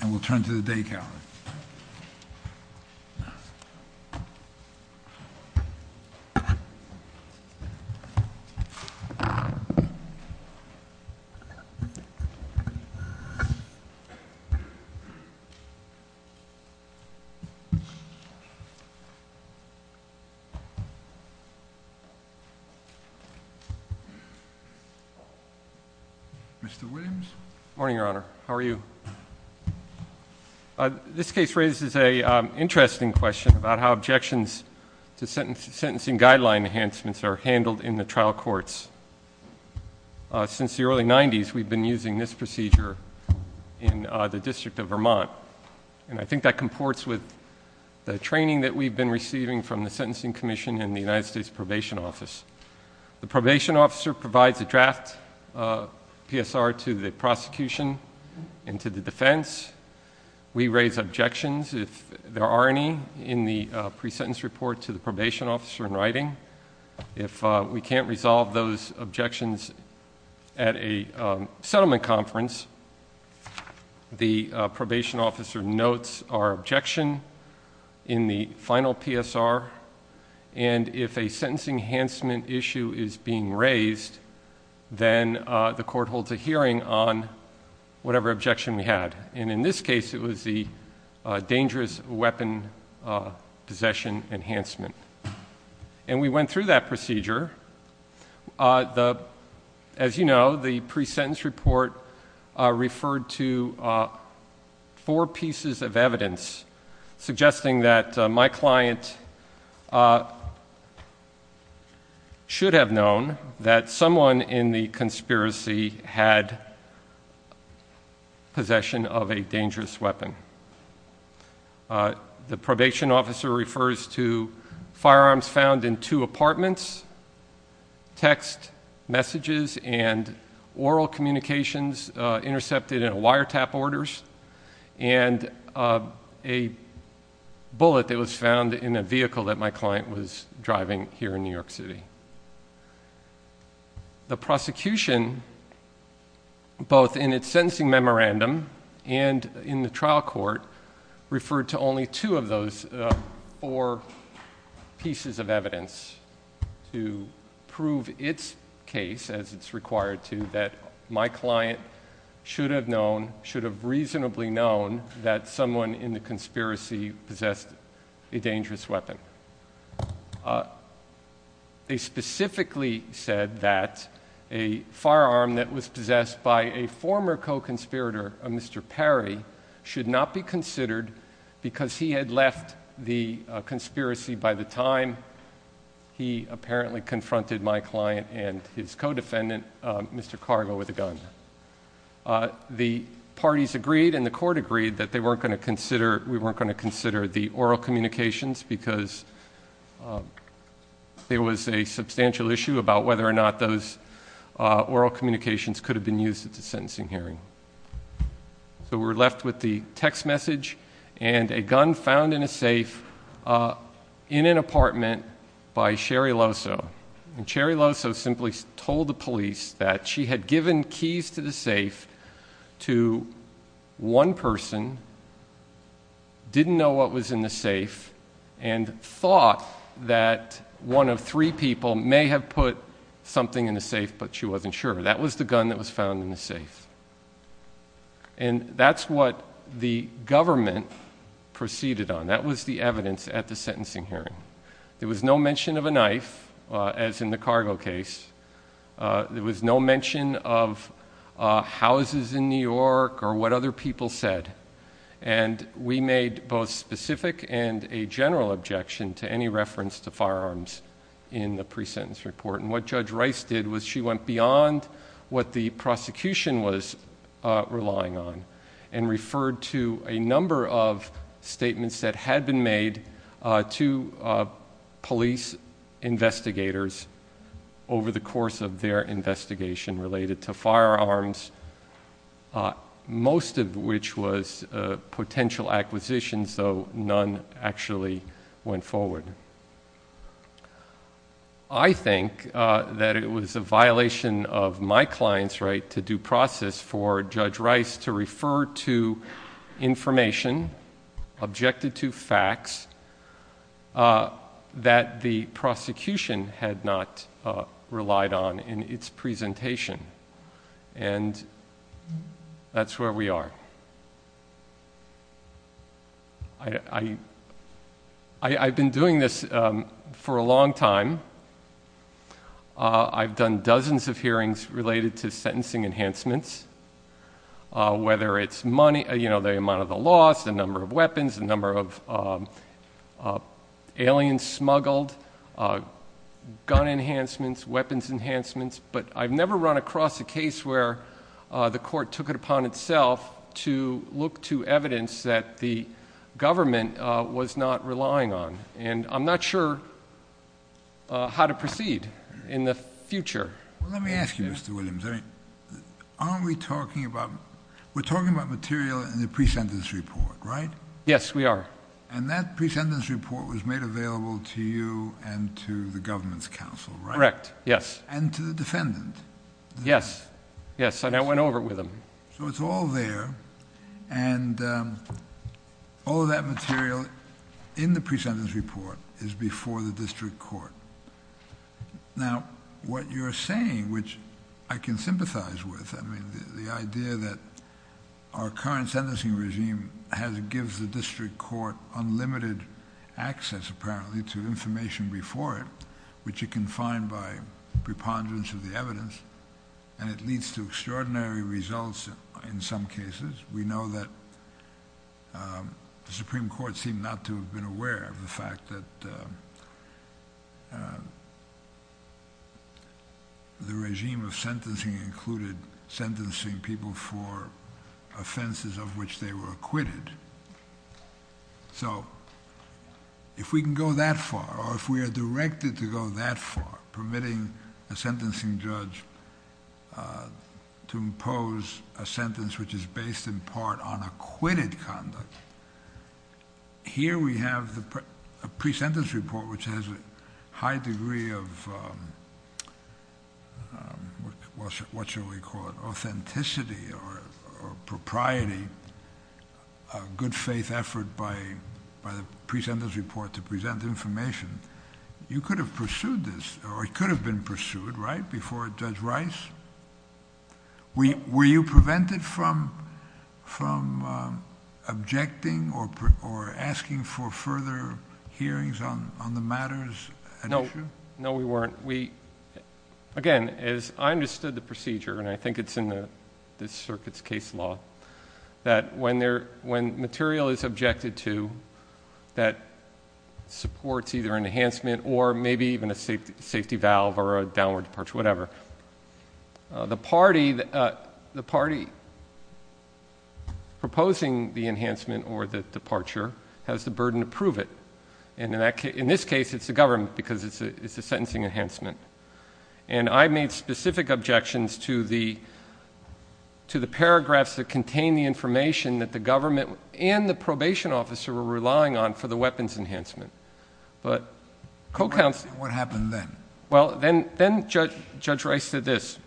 And we'll turn to the day count. Mr. Williams. Good morning, Your Honor. How are you? This case raises an interesting question about how objections to sentencing guideline enhancements are handled in the trial courts. Since the early 90s, we've been using this procedure in the District of Vermont, and I think that comports with the training that we've been receiving from the Sentencing Commission and the United States Probation Office. The probation officer provides a draft PSR to the prosecution and to the defense. We raise objections, if there are any, in the pre-sentence report to the probation officer in writing. If we can't resolve those objections at a settlement conference, the probation officer notes our objection in the final PSR. And if a sentencing enhancement issue is being raised, then the court holds a hearing on whatever objection we had. And in this case, it was the dangerous weapon possession enhancement. And we went through that procedure. As you know, the pre-sentence report referred to four pieces of evidence suggesting that my client should have known that someone in the conspiracy had possession of a dangerous weapon. The probation officer refers to firearms found in two apartments, text messages, and oral communications intercepted in wiretap orders, and a bullet that was found in a vehicle that my client was driving here in New York City. The prosecution, both in its sentencing memorandum and in the trial court, referred to only two of those four pieces of evidence to prove its case, as it's required to, that my client should have reasonably known that someone in the conspiracy possessed a dangerous weapon. They specifically said that a firearm that was possessed by a former co-conspirator, a Mr. Perry, should not be considered because he had left the conspiracy by the time he apparently confronted my client and his co-defendant, Mr. Cargo, with a gun. The parties agreed, and the court agreed, that we weren't going to consider the oral communications because there was a substantial issue about whether or not those oral communications could have been used at the sentencing hearing. So we're left with the text message and a gun found in a safe in an apartment by Sherry Loso. And Sherry Loso simply told the police that she had given keys to the safe to one person, didn't know what was in the safe, and thought that one of three people may have put something in the safe, but she wasn't sure. That was the gun that was found in the safe. And that's what the government proceeded on. That was the evidence at the sentencing hearing. There was no mention of a knife, as in the Cargo case. There was no mention of houses in New York or what other people said. And we made both specific and a general objection to any reference to firearms in the pre-sentence report. And what Judge Rice did was she went beyond what the prosecution was relying on and referred to a number of statements that had been made to police investigators over the course of their investigation related to firearms, most of which was potential acquisitions, though none actually went forward. I think that it was a violation of my client's right to due process for Judge Rice to refer to information objected to facts that the prosecution had not relied on in its presentation. And that's where we are. I've been doing this for a long time. I've done dozens of hearings related to sentencing enhancements, whether it's the amount of the loss, the number of weapons, the number of aliens smuggled, gun enhancements, weapons enhancements. But I've never run across a case where the court took it upon itself to look to evidence that the government was not relying on. And I'm not sure how to proceed in the future. Let me ask you, Mr. Williams, aren't we talking about material in the pre-sentence report, right? Yes, we are. And that pre-sentence report was made available to you and to the government's counsel, right? Correct, yes. And to the defendant? Yes. Yes, and I went over it with them. So it's all there. And all of that material in the pre-sentence report is before the district court. Now, what you're saying, which I can sympathize with, I mean, the idea that our current sentencing regime gives the district court unlimited access, apparently, to information before it, which it can find by preponderance of the evidence. And it leads to extraordinary results in some cases. We know that the Supreme Court seemed not to have been aware of the fact that the regime of sentencing included sentencing people for offenses of which they were acquitted. So if we can go that far, or if we are directed to go that far, permitting a sentencing judge to impose a sentence which is based in part on acquitted conduct, here we have a pre-sentence report which has a high degree of, what shall we call it, authenticity or propriety, a good faith effort by the pre-sentence report to present information. You could have pursued this, or it could have been pursued, right, before Judge Rice? Were you prevented from objecting or asking for further hearings on the matters at issue? No, we weren't. Again, as I understood the procedure, and I think it's in this circuit's case law, that when material is objected to that supports either an enhancement or maybe even a safety valve or a downward departure, whatever, the party proposing the enhancement or the departure has the burden to prove it. And in this case, it's the government because it's a sentencing enhancement. And I made specific objections to the paragraphs that contain the information that the government and the probation officer were relying on for the weapons enhancement. But co-counsel— What happened then? Well, then Judge Rice did this.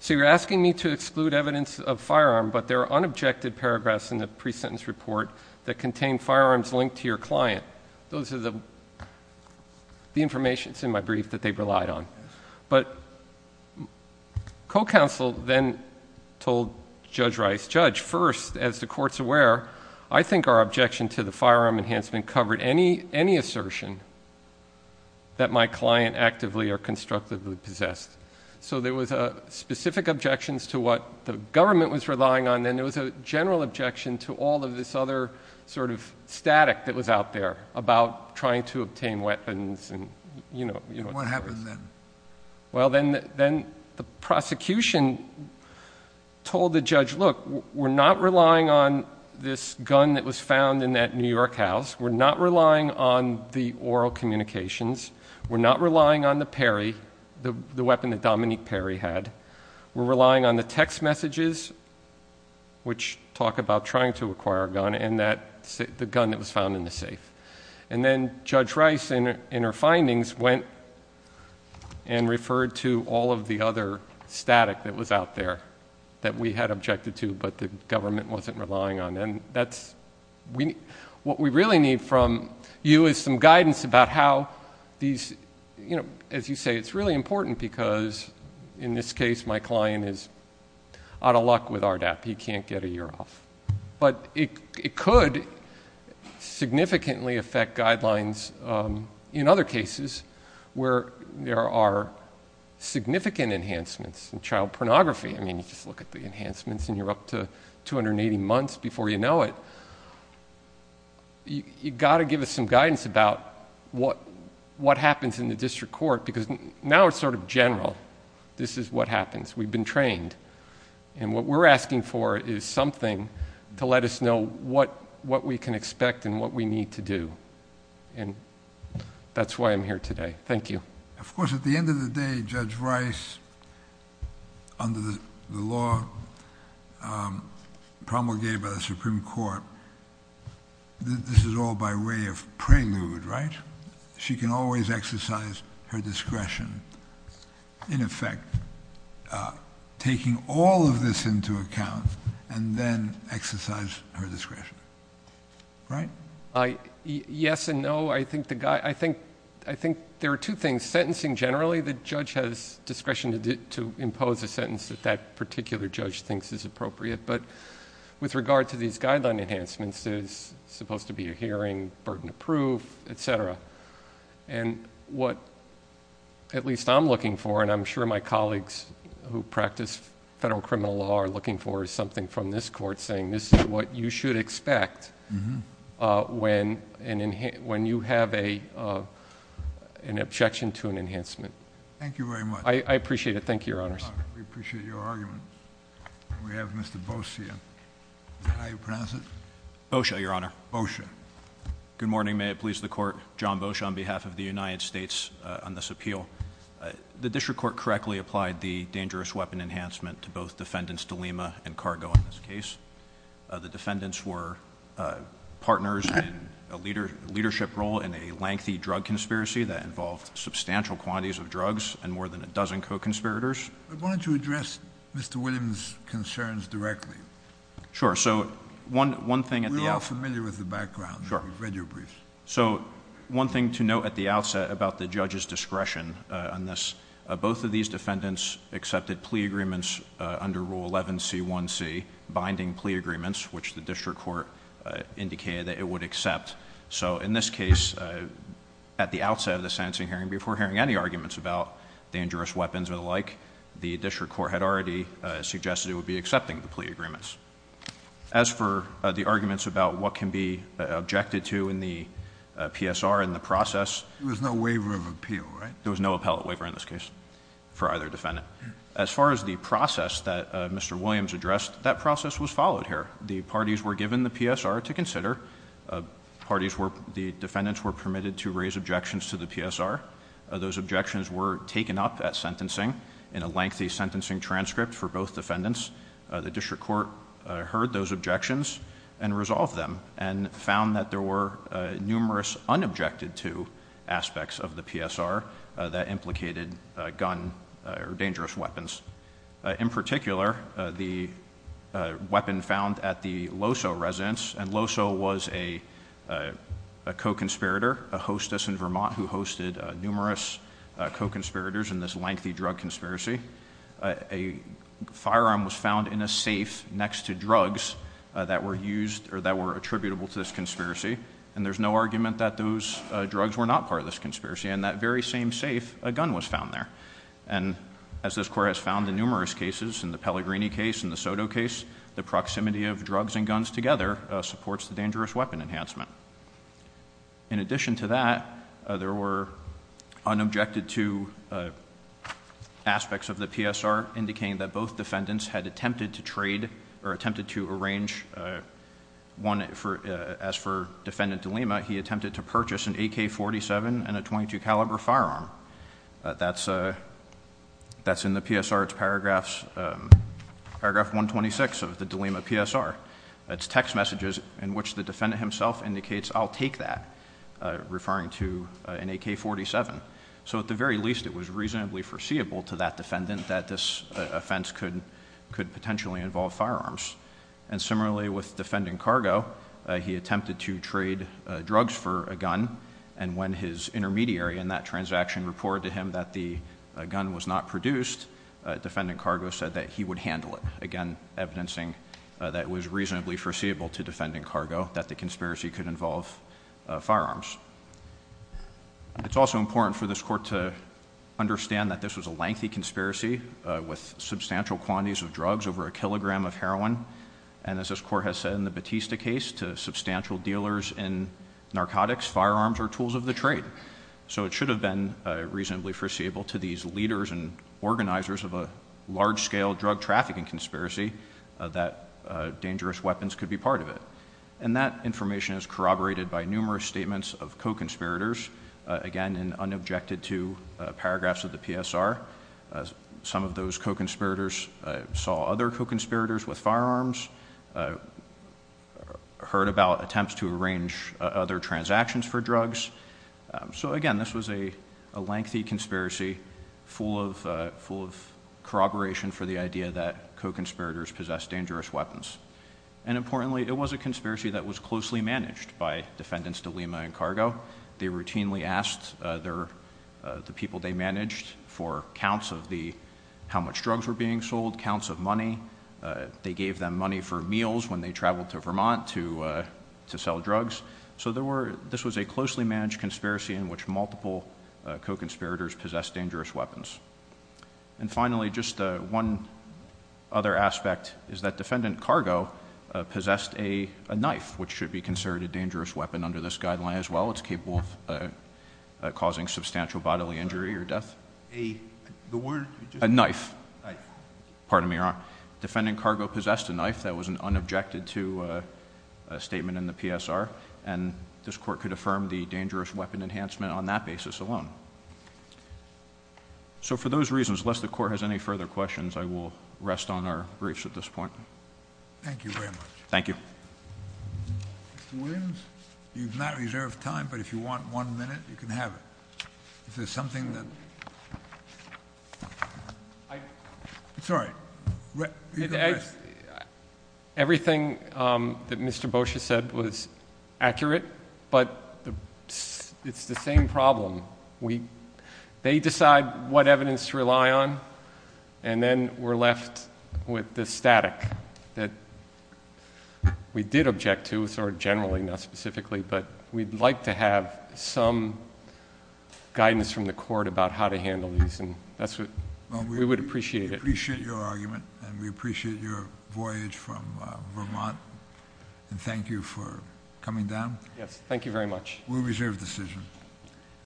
So you're asking me to exclude evidence of firearm, but there are unobjected paragraphs in the pre-sentence report that contain firearms linked to your client. Those are the information that's in my brief that they relied on. But co-counsel then told Judge Rice, First, as the Court's aware, I think our objection to the firearm enhancement covered any assertion that my client actively or constructively possessed. So there was specific objections to what the government was relying on, and there was a general objection to all of this other sort of static that was out there about trying to obtain weapons. What happened then? Well, then the prosecution told the judge, Look, we're not relying on this gun that was found in that New York house. We're not relying on the oral communications. We're not relying on the weapon that Dominique Perry had. We're relying on the text messages which talk about trying to acquire a gun and the gun that was found in the safe. And then Judge Rice, in her findings, went and referred to all of the other static that was out there that we had objected to, but the government wasn't relying on. And what we really need from you is some guidance about how these, you know, as you say, it's really important because, in this case, my client is out of luck with RDAP. He can't get a year off. But it could significantly affect guidelines in other cases where there are significant enhancements in child pornography. I mean, you just look at the enhancements and you're up to 280 months before you know it. You've got to give us some guidance about what happens in the district court because now it's sort of general. This is what happens. We've been trained. And what we're asking for is something to let us know what we can expect and what we need to do. And that's why I'm here today. Thank you. Of course, at the end of the day, Judge Rice, under the law promulgated by the Supreme Court, this is all by way of prelude, right? She can always exercise her discretion, in effect, taking all of this into account and then exercise her discretion. Right? Yes and no. I think there are two things. Sentencing generally, the judge has discretion to impose a sentence that that particular judge thinks is appropriate. But with regard to these guideline enhancements, there's supposed to be a hearing, burden of proof, et cetera. And what at least I'm looking for, and I'm sure my colleagues who practice federal criminal law are looking for, is something from this court saying this is what you should expect when you have an objection to an enhancement. Thank you very much. I appreciate it. Thank you, Your Honors. We appreciate your argument. We have Mr. Boshia. Is that how you pronounce it? Boshia, Your Honor. Boshia. Good morning. May it please the Court. John Boshia on behalf of the United States on this appeal. The district court correctly applied the dangerous weapon enhancement to both defendants DeLima and Cargo in this case. The defendants were partners in a leadership role in a lengthy drug conspiracy that involved substantial quantities of drugs and more than a dozen co-conspirators. I wanted to address Mr. Williams' concerns directly. Sure. So one thing at the outset... We're all familiar with the background. Sure. We've read your briefs. So one thing to note at the outset about the judge's discretion on this, both of these defendants accepted plea agreements under Rule 11C1C, binding plea agreements, which the district court indicated that it would accept. So in this case, at the outset of the sentencing hearing, before hearing any arguments about dangerous weapons or the like, the district court had already suggested it would be accepting the plea agreements. As for the arguments about what can be objected to in the PSR and the process... There was no waiver of appeal, right? There was no appellate waiver in this case for either defendant. As far as the process that Mr. Williams addressed, that process was followed here. The parties were given the PSR to consider. Parties were... the defendants were permitted to raise objections to the PSR. Those objections were taken up at sentencing in a lengthy sentencing transcript for both defendants. The district court heard those objections and resolved them and found that there were numerous unobjected to aspects of the PSR that implicated a gun or dangerous weapons. In particular, the weapon found at the Loso residence. And Loso was a co-conspirator, a hostess in Vermont who hosted numerous co-conspirators in this lengthy drug conspiracy. A firearm was found in a safe next to drugs that were used or that were attributable to this conspiracy. And there's no argument that those drugs were not part of this conspiracy. In that very same safe, a gun was found there. And as this court has found in numerous cases, in the Pellegrini case, in the Soto case, the proximity of drugs and guns together supports the dangerous weapon enhancement. In addition to that, there were unobjected to aspects of the PSR, indicating that both defendants had attempted to trade or attempted to arrange... One, as for Defendant DeLima, he attempted to purchase an AK-47 and a .22 caliber firearm. That's in the PSR, it's paragraph 126 of the DeLima PSR. It's text messages in which the defendant himself indicates, I'll take that, referring to an AK-47. So at the very least, it was reasonably foreseeable to that defendant that this offense could potentially involve firearms. And similarly with Defendant Cargo, he attempted to trade drugs for a gun. And when his intermediary in that transaction reported to him that the gun was not produced, Defendant Cargo said that he would handle it. Again, evidencing that it was reasonably foreseeable to Defendant Cargo that the conspiracy could involve firearms. It's also important for this court to understand that this was a lengthy conspiracy with substantial quantities of drugs over a kilogram of heroin. And as this court has said in the Batista case, to substantial dealers in narcotics, firearms are tools of the trade. So it should have been reasonably foreseeable to these leaders and organizers of a large-scale drug trafficking conspiracy that dangerous weapons could be part of it. And that information is corroborated by numerous statements of co-conspirators. Again, in unobjected to paragraphs of the PSR, some of those co-conspirators saw other co-conspirators with firearms, heard about attempts to arrange other transactions for drugs. So again, this was a lengthy conspiracy, full of corroboration for the idea that co-conspirators possessed dangerous weapons. And importantly, it was a conspiracy that was closely managed by Defendants DeLima and Cargo. They routinely asked the people they managed for counts of how much drugs were being sold, counts of money. They gave them money for meals when they traveled to Vermont to sell drugs. So this was a closely managed conspiracy in which multiple co-conspirators possessed dangerous weapons. And finally, just one other aspect is that Defendant Cargo possessed a knife, which should be considered a dangerous weapon under this guideline as well. It's capable of causing substantial bodily injury or death. A knife. Pardon me, Your Honor. Defendant Cargo possessed a knife. That was an unobjected to statement in the PSR. And this Court could affirm the dangerous weapon enhancement on that basis alone. So for those reasons, lest the Court has any further questions, I will rest on our briefs at this point. Thank you very much. Thank you. Mr. Williams, you've not reserved time, but if you want one minute, you can have it. If there's something that... Sorry. Everything that Mr. Boccia said was accurate, but it's the same problem. They decide what evidence to rely on, and then we're left with the static that we did object to, sort of generally, not specifically, but we'd like to have some guidance from the Court about how to handle these. We would appreciate it. We appreciate your argument, and we appreciate your voyage from Vermont, and thank you for coming down. Yes, thank you very much. We reserve the decision.